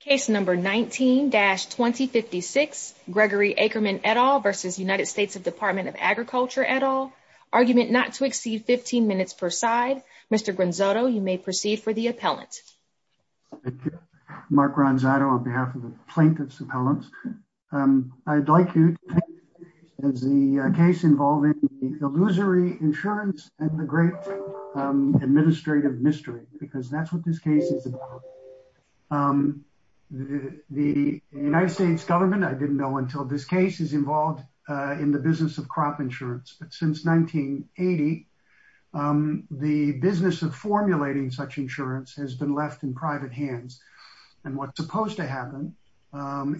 Case number 19-2056, Gregory Ackerman et al. v. United States Department of Agriculture et al. Argument not to exceed 15 minutes per side. Mr. Gronzato, you may proceed for the appellant. Thank you. Mark Gronzato on behalf of the plaintiff's appellants. I'd like you to think of the case involving the illusory insurance and the great administrative mystery because that's what this case is about. The United States government, I didn't know until this case is involved in the business of crop insurance. But since 1980, the business of formulating such insurance has been left in private hands. And what's supposed to happen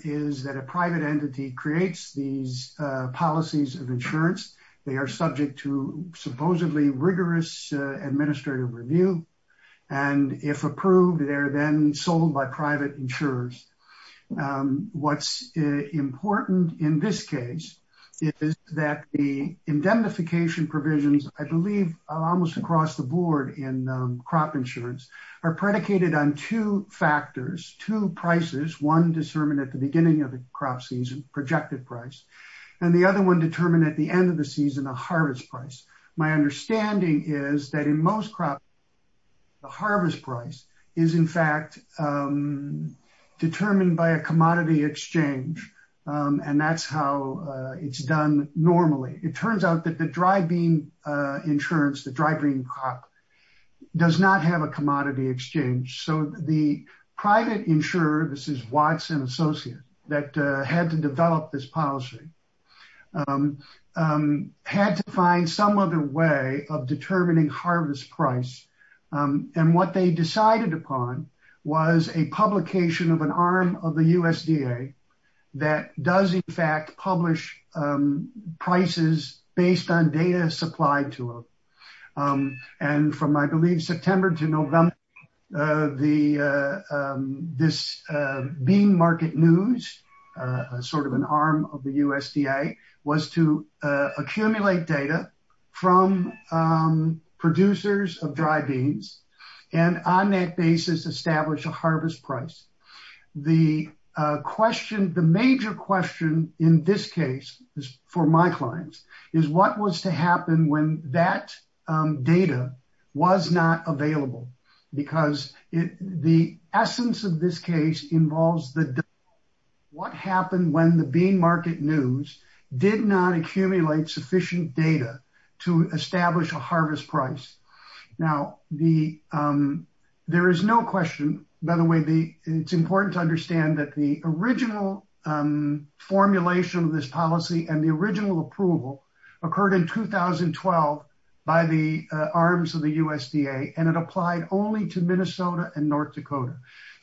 is that a private entity creates these policies of insurance. They are subject to supposedly rigorous administrative review. And if approved, they're then sold by private insurers. What's important in this case is that the indemnification provisions, I believe almost across the board in crop insurance, are predicated on two factors, two prices, one determined at the beginning of the crop season, projected price, and the other one determined at the end of the season, a harvest price. My understanding is that in most crops, the harvest price is in fact determined by a commodity exchange. And that's how it's done normally. It turns out that the dry bean insurance, the dry green crop, does not have a commodity exchange. So the private insurer, this is Watson Associates, that had to develop this policy, had to find some other way of determining harvest price. And what they decided upon was a publication of an arm of the USDA that does in fact publish prices based on data supplied to them. And from, I believe, September to November, the, this bean market news, sort of an arm of the USDA, was to accumulate data from producers of dry beans, and on that basis, establish a harvest price. The question, the major question in this case, for my clients, is what was to happen when that data was not available? Because the essence of this case involves what happened when the bean market news did not accumulate sufficient data to establish a harvest price. Now, there is no question, by the way, it's important to understand that the original formulation of this policy and the applied only to Minnesota and North Dakota.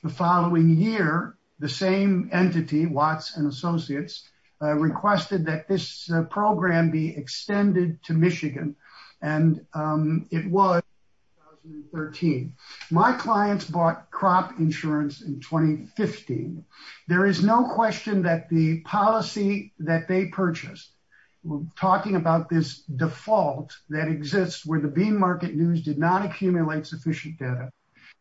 The following year, the same entity, Watson Associates, requested that this program be extended to Michigan, and it was in 2013. My clients bought crop insurance in 2015. There is no question that the policy that they purchased, talking about this default that exists where the bean market news did not accumulate sufficient data,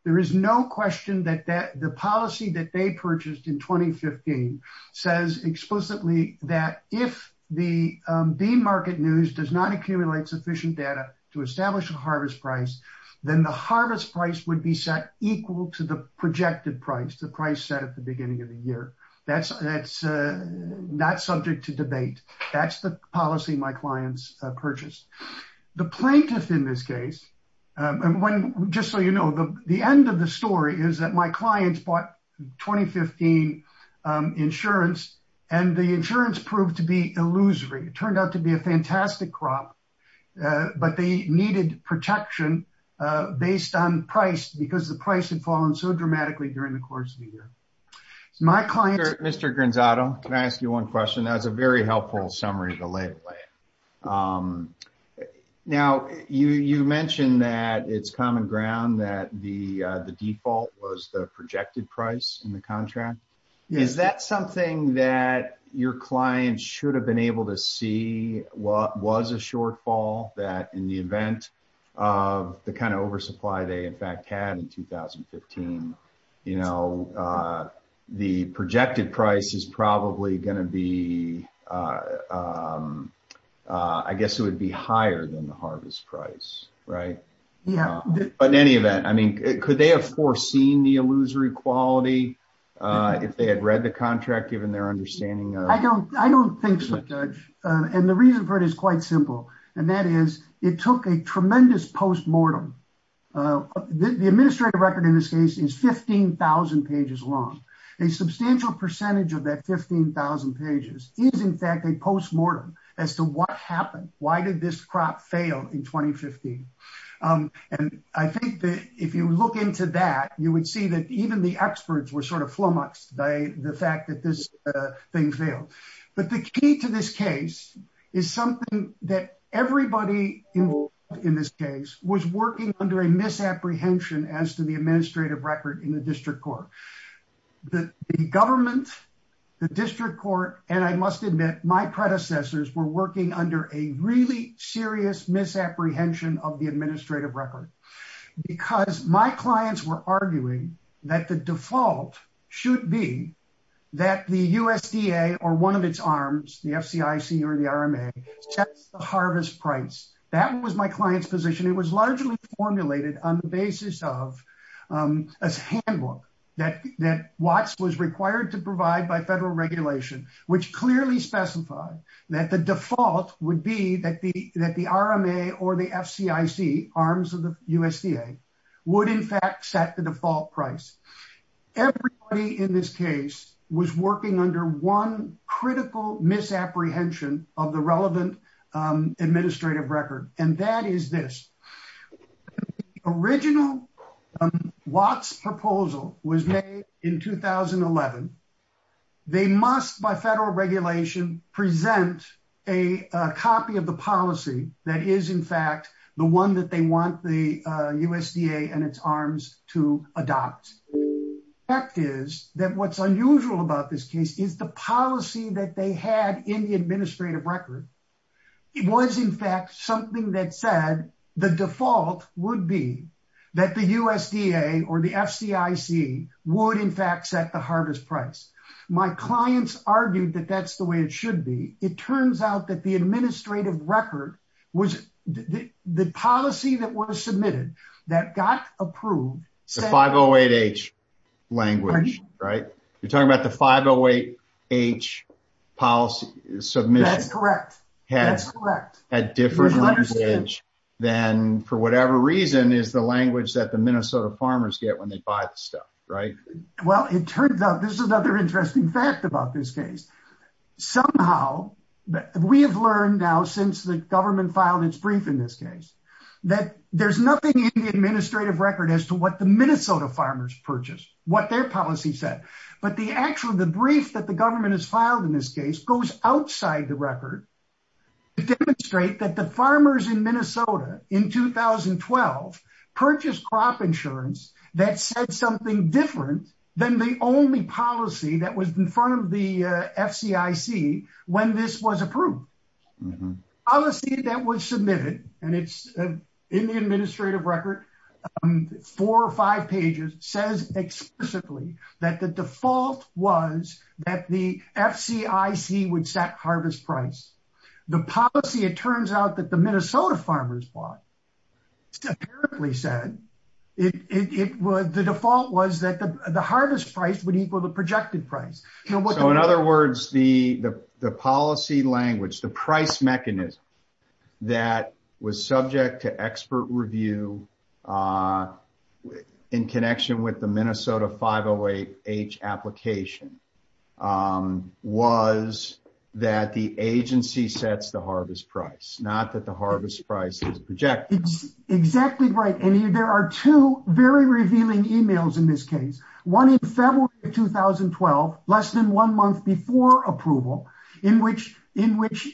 there is no question that the policy that they purchased in 2015 says explicitly that if the bean market news does not accumulate sufficient data to establish a harvest price, then the harvest price would be set equal to the projected price, the price set at the beginning of the year. That's not subject to debate. That's the policy my clients purchased. The plaintiff in this case, just so you know, the end of the story is that my clients bought 2015 insurance, and the insurance proved to be illusory. It turned out to be a fantastic crop, but they needed protection based on price because the price had fallen so dramatically during the year. Mr. Granzato, can I ask you one question? That was a very helpful summary to lay away. Now, you mentioned that it's common ground that the default was the projected price in the contract. Is that something that your clients should have been able to see was a shortfall that in the event of the kind of oversupply they in fact had in 2015, you know, the projected price is probably going to be, I guess it would be higher than the harvest price, right? Yeah. But in any event, I mean, could they have foreseen the illusory quality if they had read the contract given their understanding? I don't think so, Judge, and the reason for it is quite simple, and that is it took a tremendous postmortem. The administrative record in this case is 15,000 pages long. A substantial percentage of that 15,000 pages is in fact a postmortem as to what happened. Why did this crop fail in 2015? And I think that if you look into that, you would see that even the experts were sort of flummoxed by the fact that this thing failed. But the key to this case is something that everybody involved in this case was working under a misapprehension as to the administrative record in the district court. The government, the district court, and I must admit my predecessors were working under a really serious misapprehension of the administrative record because my clients were arguing that the default should be that the USDA or one of its arms, the FCIC or the RMA, sets the client's position. It was largely formulated on the basis of a handbook that Watts was required to provide by federal regulation, which clearly specified that the default would be that the RMA or the FCIC, arms of the USDA, would in fact set the default price. Everybody in this case was working under one critical misapprehension of the relevant administrative record, and that is this. The original Watts proposal was made in 2011. They must, by federal regulation, present a copy of the policy that is in fact the one that they want the USDA and its arms to adopt. The fact is that what's unusual about this case is the policy that they had in the administrative record it was in fact something that said the default would be that the USDA or the FCIC would in fact set the hardest price. My clients argued that that's the way it should be. It turns out that the administrative record was the policy that was submitted that got approved. The 508H language, right? You're talking about the 508H policy submission. That's correct, that's correct. Had different language than for whatever reason is the language that the Minnesota farmers get when they buy the stuff, right? Well, it turns out this is another interesting fact about this case. Somehow we have learned now since the government filed its brief in this case that there's nothing in the administrative record as to what the Minnesota farmers purchased. What their policy said, but the actual the brief that the government has filed in this case goes outside the record to demonstrate that the farmers in Minnesota in 2012 purchased crop insurance that said something different than the only policy that was in front of the FCIC when this was approved. Policy that was submitted and it's in the administrative record four or five pages says explicitly that the default was that the FCIC would set harvest price. The policy it turns out that the Minnesota farmers bought apparently said it was the default was that the harvest price would equal the projected price. So in other words, the policy language, the price mechanism that was subject to expert review in connection with the Minnesota 508 H application was that the agency sets the harvest price, not that the harvest price is projected. Exactly right, and there are two very revealing emails in this case. One in February 2012, less than one month before approval, in which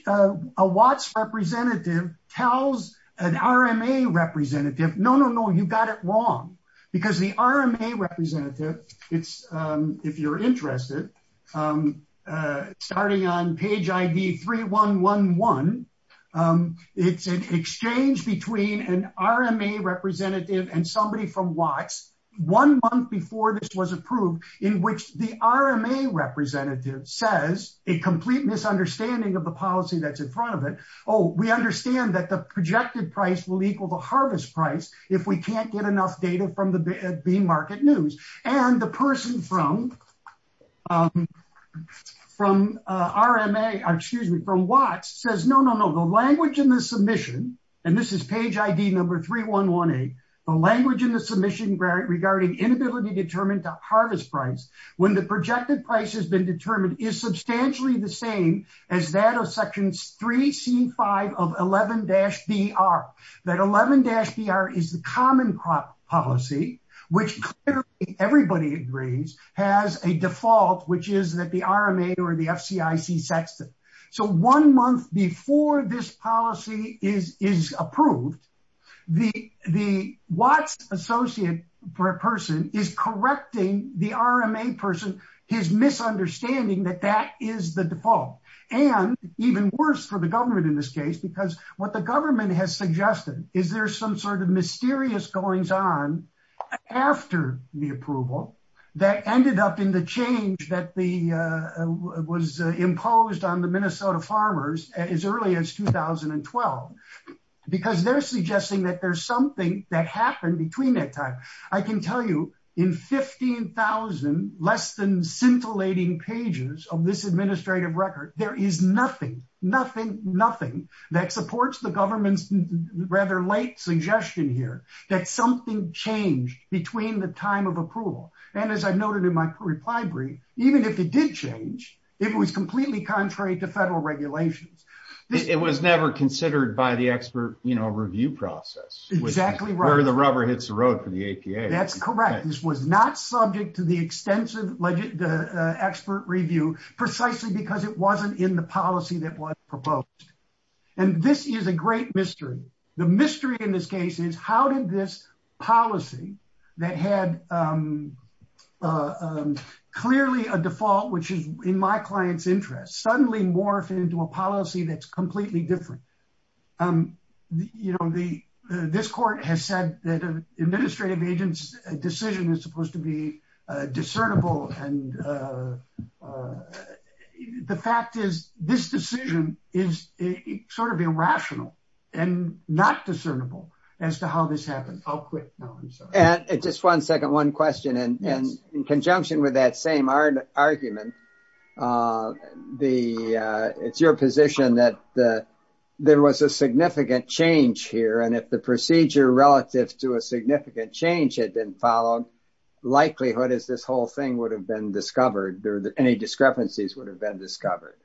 a Watts representative tells an RMA representative, no, no, no, you got it wrong. Because the RMA representative, if you're interested, starting on page ID 3111, it's an exchange between an RMA representative and somebody from Watts one month before this was approved, in which the RMA representative says a complete misunderstanding of the policy that's in front of it. Oh, we understand that the projected price will equal the harvest price if we can't get enough data from the B market news. And the person from from RMA, excuse me, from Watts says, no, no, no, the language in the submission, and this is page ID number 3118, the language in the submission regarding inability to determine the harvest price when the projected price has been determined is substantially the same as that of section 3C5 of 11-BR. That 11-BR is the common crop policy, which clearly everybody agrees has a default, which is that the RMA or the FCIC sets it. So one month before this policy is approved, the Watts associate person is correcting the RMA person, his misunderstanding that that is the default. And even worse for the government in this case, because what the government has suggested is there's some sort of mysterious goings on after the approval that ended up in the change that was imposed on the Minnesota farmers as early as 2012. Because they're suggesting that there's something that happened between that time. I can tell you, in 15,000 less than scintillating pages of this administrative record, there is nothing, nothing, nothing that supports the government's rather late suggestion here that something changed between the time of approval. And as I've noted in my reply brief, even if it did change, it was completely contrary to federal regulations. It was never considered by the expert, you know, review process. Exactly. Where the rubber hits the road for the APA. That's correct. This was not subject to the extensive expert review, precisely because it wasn't in the policy that was proposed. And this is a great mystery. The mystery in this case is how did this policy that had clearly a default, which is in my client's interest, suddenly morphed into a policy that's completely different. You know, this court has said that an administrative agent's decision is supposed to be discernible. And the fact is, this decision is sort of irrational and not discernible as to how this happened. I'll quit. No, I'm sorry. And just one second, one question. And in conjunction with that same argument, it's your position that there was a significant change here. And if the procedure relative to significant change had been followed, likelihood is this whole thing would have been discovered, or any discrepancies would have been discovered.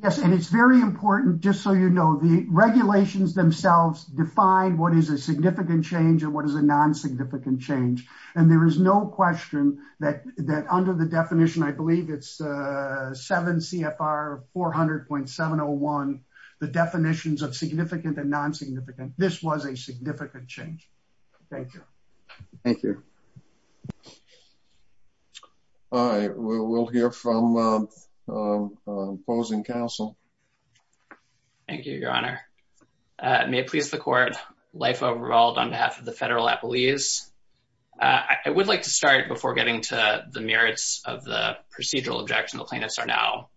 Yes. And it's very important, just so you know, the regulations themselves define what is a significant change and what is a non-significant change. And there is no question that under the definition, I believe it's 7 CFR 400.701, the definitions of significant and non-significant, this was a significant change. Thank you. Thank you. All right, we'll hear from opposing counsel. Thank you, Your Honor. May it please the court, life overruled on behalf of the Federal Appellees. I would like to start before getting to the merits of the procedural objection the plaintiffs are now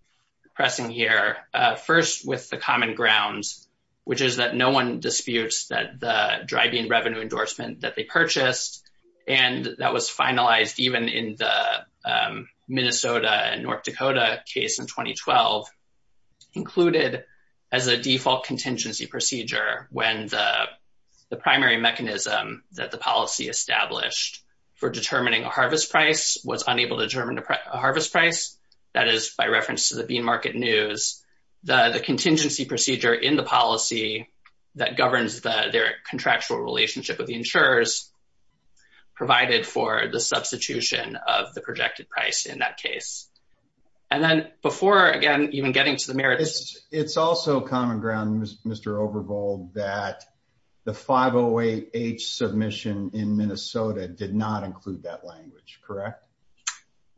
pressing here. First, with the common grounds, which is that no one disputes that the dry bean revenue endorsement that they purchased, and that was finalized even in the Minnesota and North Dakota case in 2012, included as a default contingency procedure when the primary mechanism that the policy established for determining a harvest price was unable to determine a harvest price. That is by reference to the bean market news, the contingency procedure in the policy that governs their contractual relationship with the insurers provided for the substitution of the projected price in that case. And then before, again, even getting to the merits. It's also common ground, Mr. Overbold, that the 508H submission in Minnesota did not include that language, correct?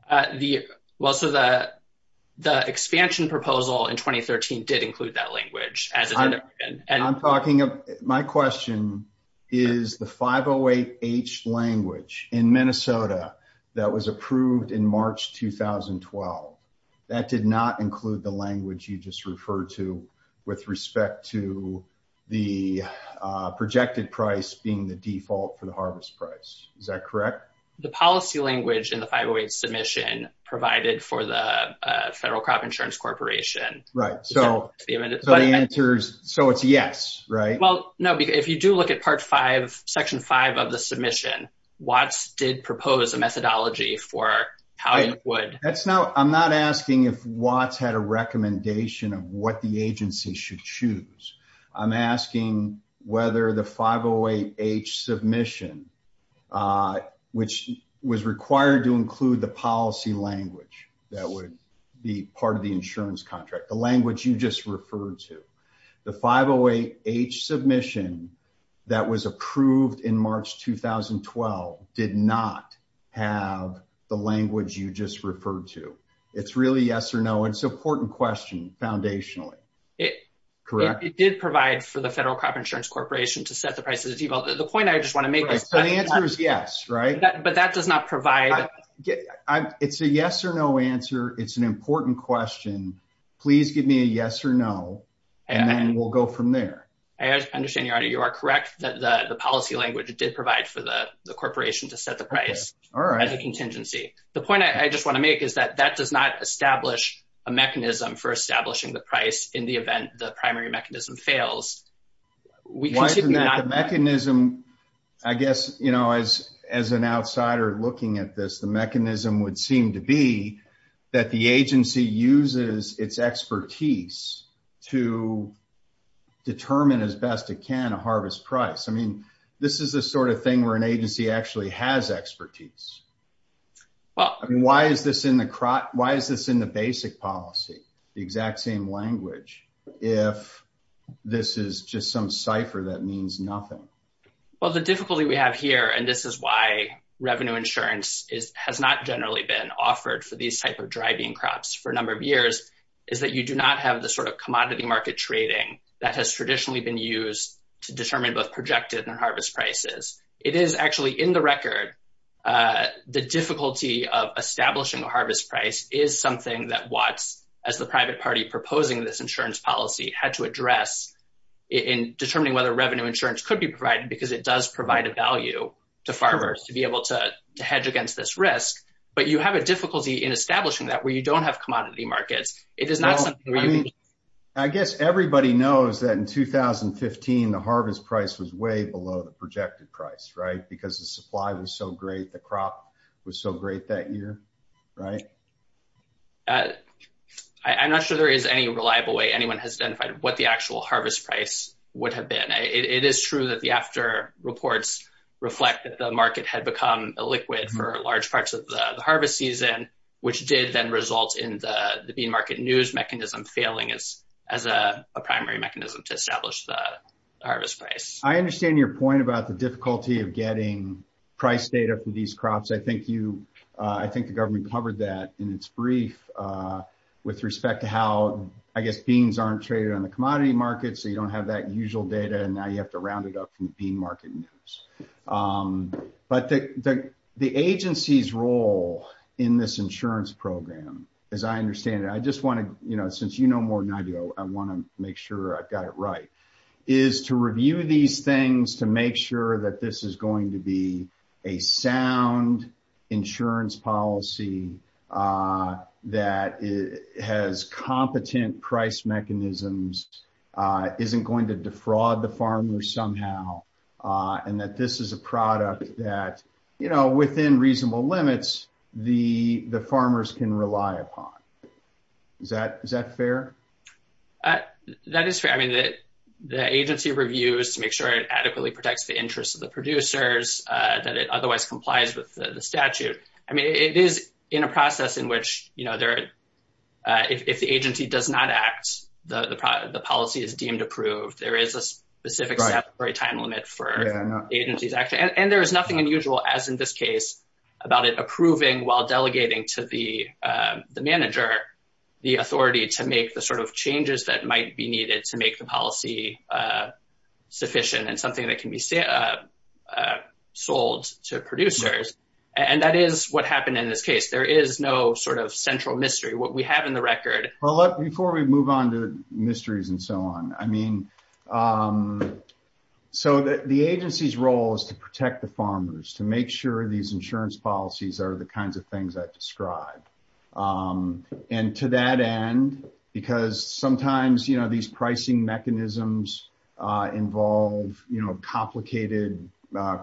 The, well, so the expansion proposal in 2013 did include that language. I'm talking, my question is the 508H language in Minnesota that was approved in March 2012, that did not include the language you just referred to with respect to the projected price being the default for the harvest price. Is that correct? The policy language in the 508H submission provided for the Federal Crop Insurance Corporation. Right, so it's a yes, right? Well, no, because if you do look at part five, section five of the submission, Watts did propose a methodology for how it would. That's not, I'm not asking if the agency should choose. I'm asking whether the 508H submission, which was required to include the policy language that would be part of the insurance contract, the language you just referred to. The 508H submission that was approved in March 2012 did not have the language you just mentioned. It did provide for the Federal Crop Insurance Corporation to set the price as a default. The point I just want to make is that the answer is yes, right? But that does not provide. It's a yes or no answer. It's an important question. Please give me a yes or no, and then we'll go from there. I understand, your honor. You are correct that the policy language did provide for the corporation to set the price as a contingency. The point I just want to make is that that does not establish a mechanism for establishing the price in the event the primary mechanism fails. The mechanism, I guess, you know, as an outsider looking at this, the mechanism would seem to be that the agency uses its expertise to determine as best it can a harvest price. I mean, this is the sort of thing where an agency actually has expertise. Well, why is this in the basic policy, the exact same language, if this is just some cipher that means nothing? Well, the difficulty we have here, and this is why revenue insurance has not generally been offered for these type of dry bean crops for a number of years, is that you do not have the sort of commodity market trading that has traditionally been used to determine both the difficulty of establishing a harvest price is something that Watts, as the private party proposing this insurance policy, had to address in determining whether revenue insurance could be provided because it does provide a value to farmers to be able to hedge against this risk. But you have a difficulty in establishing that where you don't have commodity markets. It is not something where you- I guess everybody knows that in 2015, the harvest price was way below the projected price, right? Because the supply was so great, the crop was so great that year, right? I'm not sure there is any reliable way anyone has identified what the actual harvest price would have been. It is true that the AFTR reports reflect that the market had become illiquid for large parts of the harvest season, which did then result in the bean market news mechanism failing as a primary mechanism to establish the harvest price. I understand your point about the difficulty of getting price data from these crops. I think you- I think the government covered that in its brief with respect to how, I guess, beans aren't traded on the commodity market, so you don't have that usual data, and now you have to round it up from the bean market news. But the agency's role in this insurance program, as I understand it, I just want to, you know, since you know more than I do, I want to make sure I've got it right, is to review these things to make sure that this is going to be a sound insurance policy that has competent price mechanisms, isn't going to defraud the farmers somehow, and that this is a product that, you know, within reasonable limits, the farmers can rely upon. Is that fair? That is fair. I mean, the agency reviews to make sure it adequately protects the interests of the producers, that it otherwise complies with the statute. I mean, it is in a process in which, you know, if the agency does not act, the policy is deemed approved. There is a specific temporary time limit for agencies, actually, and there is nothing unusual, as in this case, about it approving while delegating to the manager the authority to make the sort of changes that might be needed to make the policy sufficient and something that can be sold to producers. And that is what happened in this case. There is no sort of central mystery, what we have in the record. Well, look, before we move on to mysteries and so on, I mean, so the agency's role is to protect the farmers, to make sure these insurance policies are the kinds of things I've described. And to that end, because sometimes, you know, these pricing mechanisms involve, you know, complicated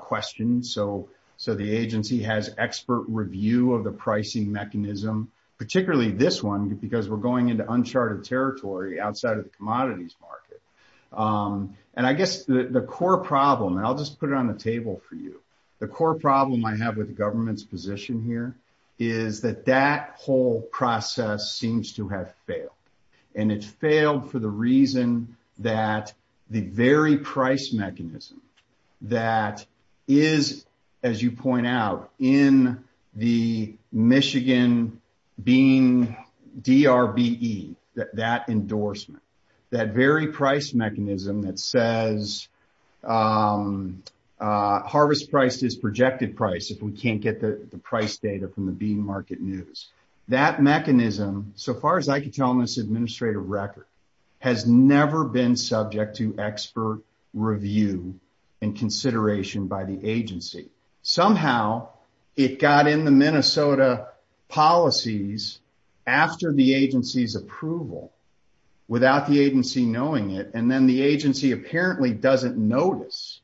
questions. So the agency has expert review of the pricing mechanism, particularly this one, because we're going into uncharted territory outside of the commodities market. And I guess the core problem, and I'll just put it on the table for you, the core problem I have with the government's position here is that that whole process seems to have failed. And it's failed for the reason that the very price mechanism that is, as you point out, in the Michigan Bean DRBE, that endorsement, that very price mechanism that says harvest price is projected price if we can't get the price data from the bean market news, that mechanism, so far as I can tell in this administrative record, has never been subject to review and consideration by the agency. Somehow, it got in the Minnesota policies after the agency's approval, without the agency knowing it, and then the agency apparently doesn't notice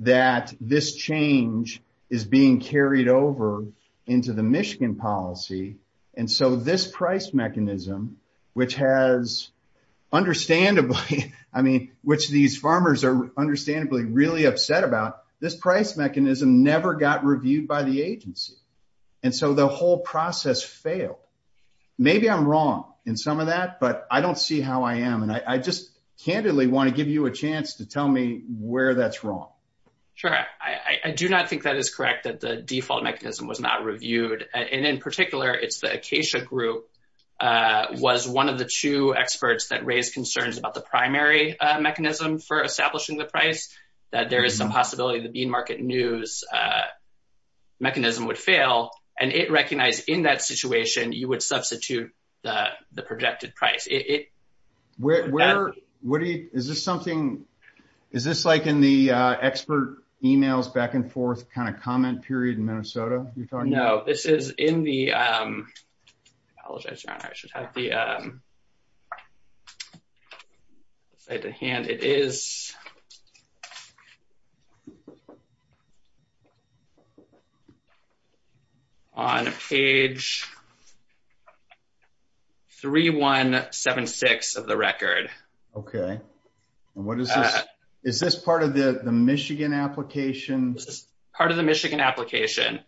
that this change is being carried over into the Michigan policy. And so this price mechanism, which has, understandably, I mean, which these farmers are understandably really upset about, this price mechanism never got reviewed by the agency. And so the whole process failed. Maybe I'm wrong in some of that, but I don't see how I am. And I just candidly want to give you a chance to tell me where that's wrong. Sure. I do not think that is correct, that the default mechanism was not reviewed. And in particular, it's the Acacia group was one of the two experts that raised concerns about the primary mechanism for establishing the price, that there is some possibility the bean market news mechanism would fail. And it recognized in that situation, you would substitute the projected price. Is this something, is this like in the expert emails back and forth kind of comment period in Minnesota? No, this is in the, I apologize, your honor, I should have the slide at hand. It is on page 3176 of the record. Okay. And what is this? Is this part of the Michigan application? This is part of the Michigan application.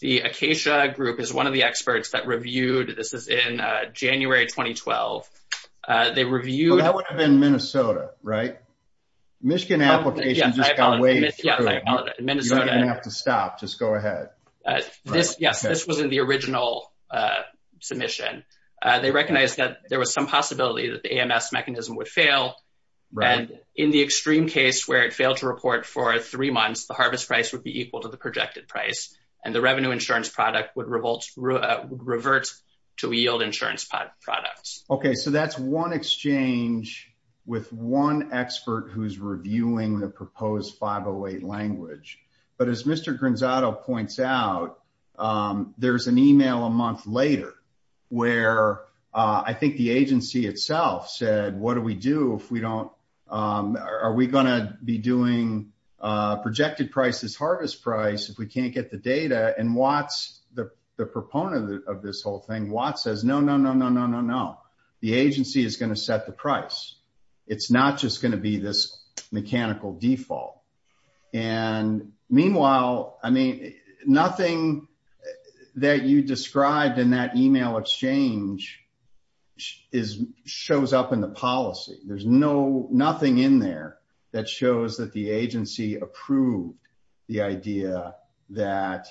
The Acacia group is one of the experts that reviewed, this is in January, 2012. They reviewed- That would have been Minnesota, right? Michigan application just got waived. Yeah, I apologize, Minnesota- You don't even have to stop, just go ahead. Yes, this was in the original submission. They recognized that there was some possibility that AMS mechanism would fail. And in the extreme case where it failed to report for three months, the harvest price would be equal to the projected price and the revenue insurance product would revert to yield insurance products. Okay, so that's one exchange with one expert who's reviewing the proposed 508 language. But as Mr. Granzato points out, there's an email a month later where I think the agency itself said, what do we do if we don't, are we going to be doing projected prices, harvest price if we can't get the data? And Watts, the proponent of this whole thing, Watts says, no, no, no, no, no, no, no. The agency is going to set the price. It's not just going to be this mechanical default. And meanwhile, I mean, nothing that you described in that email exchange shows up in the policy. There's nothing in there that shows that the agency approved the idea that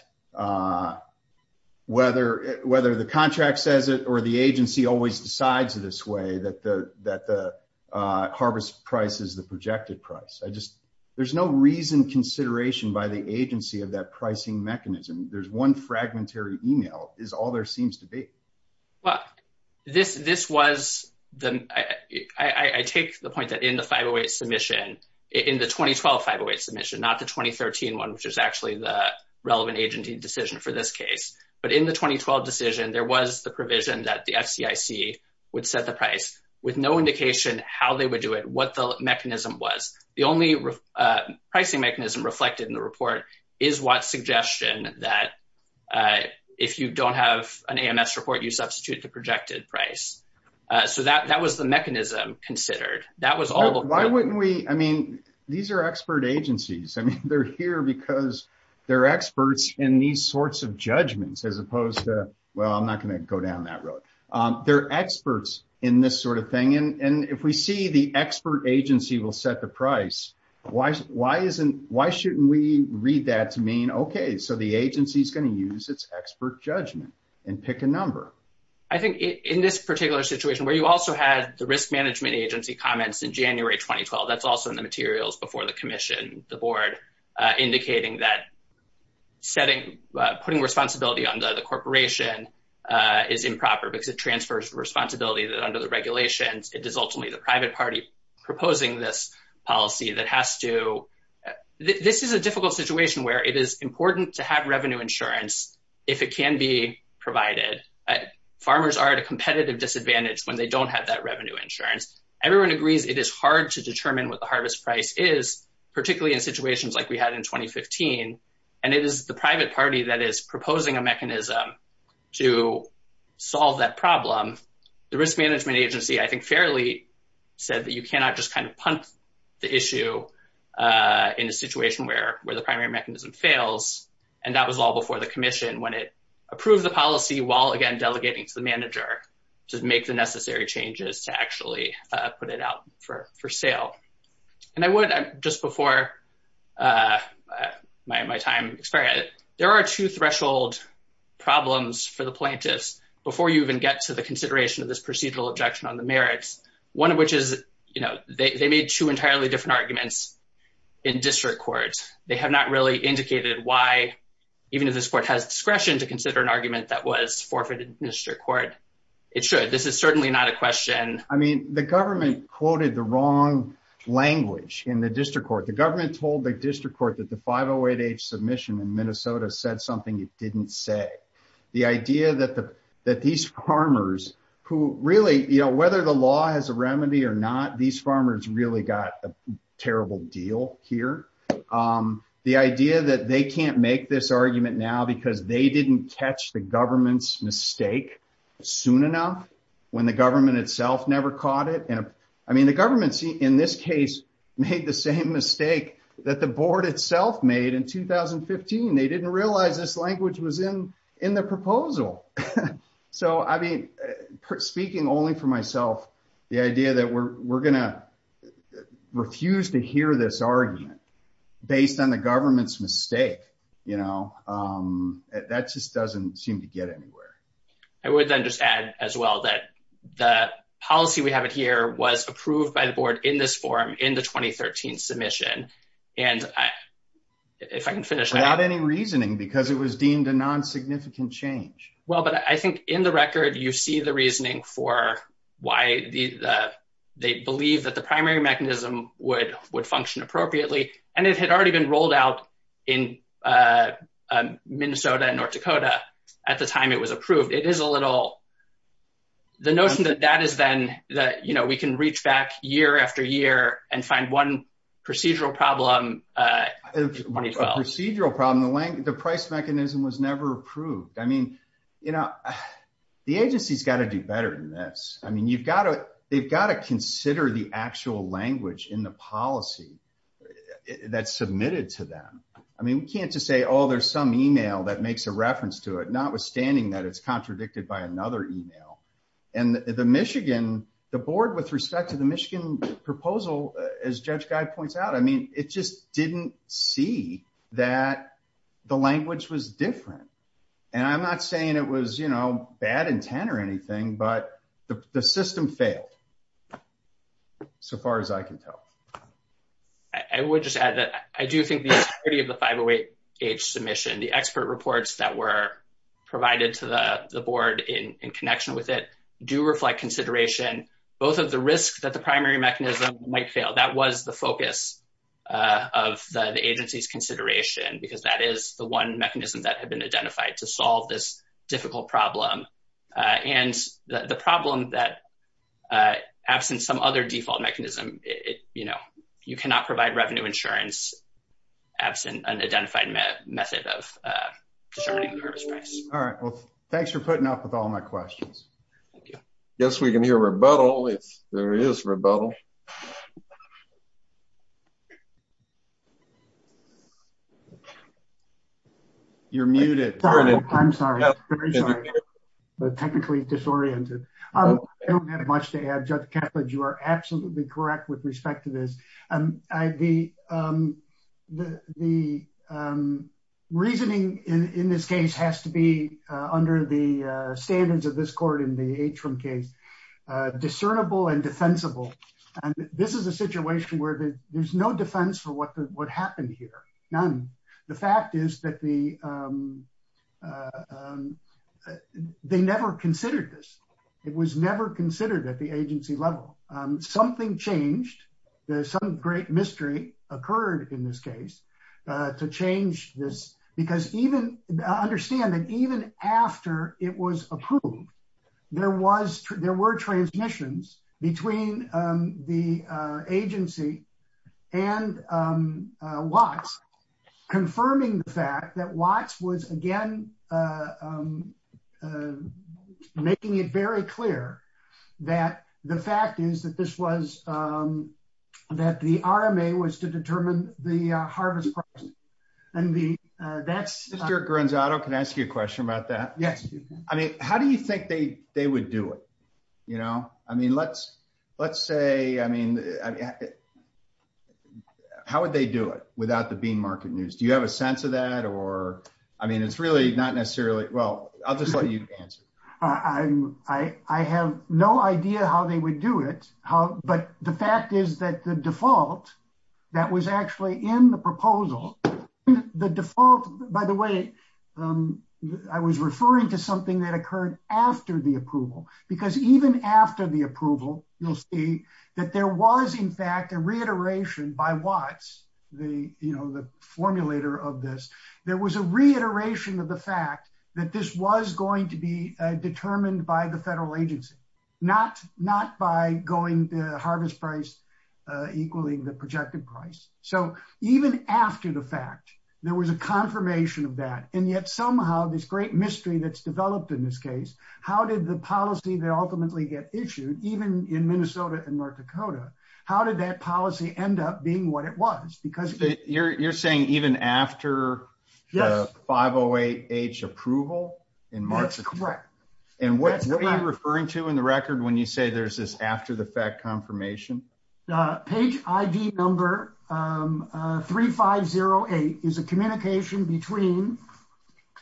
whether the contract says it or the agency always decides this way that the harvest price is the projected price. I just, there's no reason consideration by the agency of that pricing mechanism. There's one fragmentary email is all there seems to be. Well, this was the, I take the point that in the 508 submission, in the 2012 508 submission, not the 2013 one, which is actually the relevant agency decision for this case. But in the 2012 decision, there was the provision that the FCIC would set the price with no indication how they would do it, what the mechanism was. The only pricing mechanism reflected in the report is Watts' suggestion that if you don't have an AMS report, you substitute the projected price. So that was the mechanism considered. That was all- Why wouldn't we, I mean, these are expert agencies. I mean, they're here because they're experts in these sorts of judgments as opposed to, well, I'm not going to go down that road. They're experts in this sort of thing. And if we see the expert agency will set the price, why shouldn't we read that to mean, okay, so the agency's going to use its expert judgment and pick a number? I think in this particular situation, where you also had the risk management agency comments in January, 2012, that's also in the setting, putting responsibility on the corporation is improper because it transfers responsibility that under the regulations, it is ultimately the private party proposing this policy that has to, this is a difficult situation where it is important to have revenue insurance, if it can be provided. Farmers are at a competitive disadvantage when they don't have that revenue insurance. Everyone agrees it is hard to determine what the harvest price is, particularly in situations like we had in 2015. And it is the private party that is proposing a mechanism to solve that problem. The risk management agency, I think, fairly said that you cannot just kind of punt the issue in a situation where the primary mechanism fails. And that was all before the commission, when it approved the policy while again, delegating to the manager to make the necessary changes to actually put it out for sale. And I would, just before my time expires, there are two threshold problems for the plaintiffs, before you even get to the consideration of this procedural objection on the merits, one of which is, you know, they made two entirely different arguments in district courts, they have not really indicated why, even if this court has discretion to consider an argument that was forfeited in district court, it should, this is certainly not a question. I mean, the government quoted the wrong language in the district court, the government told the district court that the 508H submission in Minnesota said something it didn't say. The idea that these farmers who really, you know, whether the law has a remedy or not, these farmers really got a terrible deal here. The idea that they can't make this argument now, because they didn't catch the government's mistake soon enough, when the government itself never caught it. And I mean, the government, in this case, made the same mistake that the board itself made in 2015. They didn't realize this language was in the proposal. So I mean, speaking only for myself, the idea that we're going to refuse to hear this argument based on the government's you know, that just doesn't seem to get anywhere. I would then just add as well that the policy we have it here was approved by the board in this form in the 2013 submission. And if I can finish out any reasoning, because it was deemed a non significant change. Well, but I think in the record, you see the reasoning for why the they believe that the primary mechanism would would have been Minnesota and North Dakota. At the time it was approved, it is a little the notion that that is then that, you know, we can reach back year after year and find one procedural problem. procedural problem, the length, the price mechanism was never approved. I mean, you know, the agency's got to do better than this. I mean, you've got to, they've got to consider the to say, Oh, there's some email that makes a reference to it, notwithstanding that it's contradicted by another email. And the Michigan, the board with respect to the Michigan proposal, as Judge Guy points out, I mean, it just didn't see that the language was different. And I'm not saying it was, you know, bad intent or anything, but the system failed. So far as I can tell, I would just add that I do think the entirety of the 508 age submission, the expert reports that were provided to the board in connection with it do reflect consideration, both of the risks that the primary mechanism might fail, that was the focus of the agency's consideration, because that is the one mechanism that had been identified to absent some other default mechanism, you know, you cannot provide revenue insurance, absent an identified method of determining the purpose price. All right, well, thanks for putting up with all my questions. Yes, we can hear rebuttal. There is rebuttal. You're muted. I'm sorry. But technically disoriented. I don't have much to add, Judge Kaplan, you are absolutely correct with respect to this. And the reasoning in this case has to be under the standards of this court in the Atrium case, discernible and defensible. And this is a situation where there's no defense for what happened here. None. The fact is that the they never considered this. It was never considered at the agency level. Something changed. There's some great mystery occurred in this case to change this, because even understand that even after it was approved, there was there were transmissions between the agency and Watts, confirming the fact that Watts was again, making it very clear that the fact is that this was that the RMA was to determine the harvest. And the that's your Granzato. Can I ask you a question about that? Yes. I mean, how do you think they they would do it? You know, I mean, let's let's say, I mean, how would they do it without the bean market news? Do you have a sense of that? Or I mean, it's really not necessarily. Well, I'll just let you answer. I have no idea how they would do it. But the fact is that the default that was actually in the proposal, the default, by the way, I was referring to something that occurred after the approval, because even after the approval, you'll see that there was, in fact, a reiteration by Watts, the, you know, the formulator of this, there was a reiteration of the fact that this was going to be determined by the federal agency, not not by going to harvest price, equaling the projected price. So even after the fact, there was a confirmation of that. And yet, somehow, this great mystery that's developed in this case, how did the policy that ultimately get issued even in Minnesota and North Dakota? How did that policy end up being what it was? Because you're saying even after 508 H approval in March, correct. And what you're referring to in the record when you say there's this after the fact confirmation, page ID number 3508 is a communication between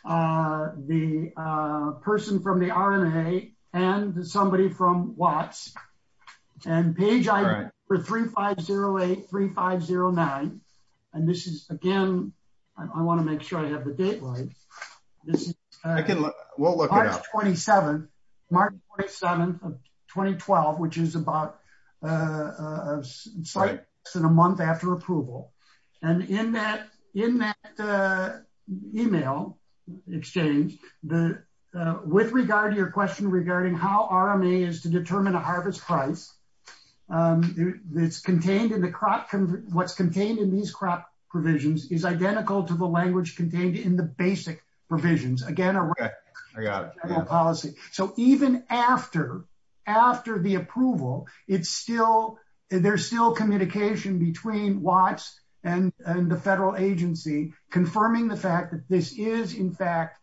the person from the RNA and somebody from Watts and page for 3508 3509. And this is again, I want to make sure I have the date right. I can look, we'll look at 27, March 27 of 2012, which is about a month after approval. And in that in that email exchange, the with regard to your question regarding how RMA is to determine a harvest price that's contained in the crop, what's contained in these crop provisions is identical to the language contained in the basic provisions again, I got a policy. So even after, after the approval, it's still there's still communication between Watts and the federal agency confirming the fact that this is in fact,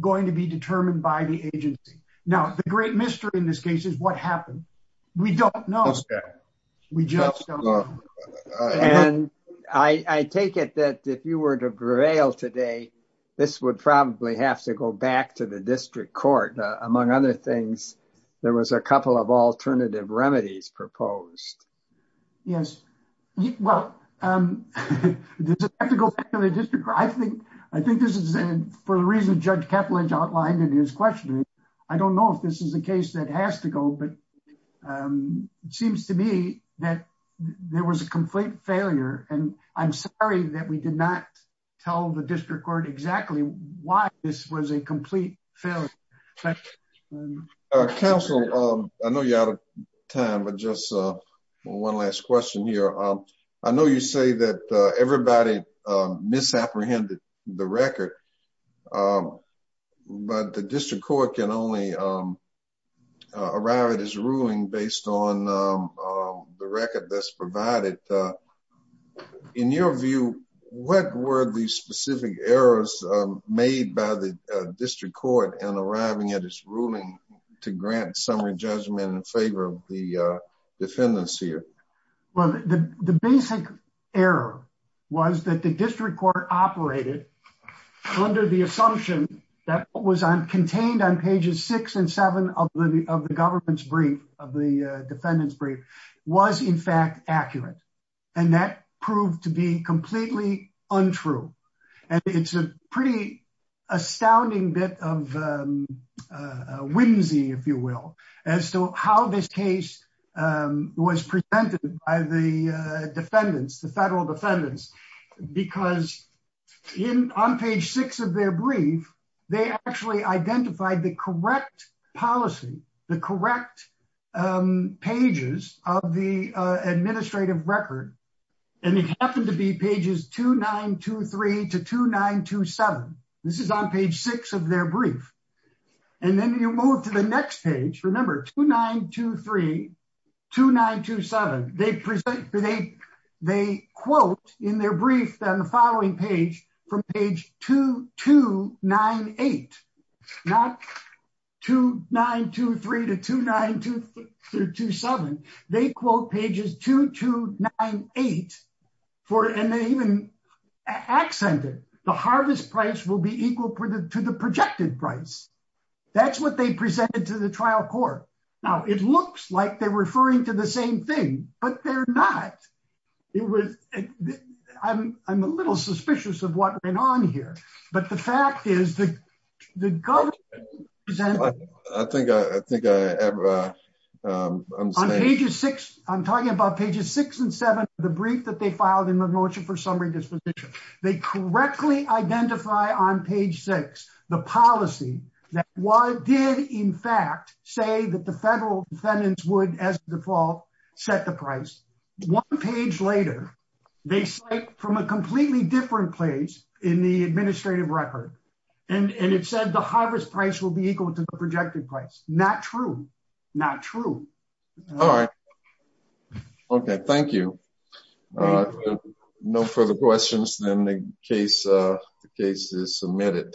going to be determined by the agency. Now, the great mystery in this case is what happened. We don't know. We just don't know. And I take it that if you were to prevail today, this would probably have to go back to the district court. Among other things, there was a couple of alternative remedies proposed. Yes. Well, I think, I think this is for the reason Judge Ketledge outlined in his question. I don't know if this is a case that has to go, but it seems to me that there was a complete failure. And I'm sorry that we did not tell the district court exactly why this was a complete failure. Counsel, I know you're out of time, but just one last question here. I know you say that everybody misapprehended the record, but the district court can only arrive at his ruling based on the record that's provided. In your view, what were the specific errors made by the district court and arriving at his ruling to grant summary judgment in favor of defendants here? Well, the basic error was that the district court operated under the assumption that what was contained on pages six and seven of the government's brief of the defendant's brief was in fact accurate. And that proved to be completely untrue. And it's a pretty astounding bit of whimsy, if you will, as to how this case was presented by the defendants, the federal defendants, because on page six of their brief, they actually identified the correct policy, the correct pages of the administrative record. And it happened to be pages 2923 to 2927. This is on page six of their brief. And then you move to the next page. Remember 2923 to 927. They quote in their brief on the following page from page 2298, not 2923 to 2927. They quote pages 2298, and they even accented the harvest price will be equal to the projected price. That's what they presented to the trial court. Now, it looks like they're referring to the same thing, but they're not. I'm a little suspicious of what went on here. But the fact is that the pages six and seven, the brief that they filed in the motion for summary disposition, they correctly identify on page six, the policy that did in fact say that the federal defendants would as default set the price. One page later, they cite from a completely different place in the administrative record. And it said the harvest price will be equal to the projected price. Not true. Not true. All right. Okay, thank you. No further questions than the case. The case is submitted.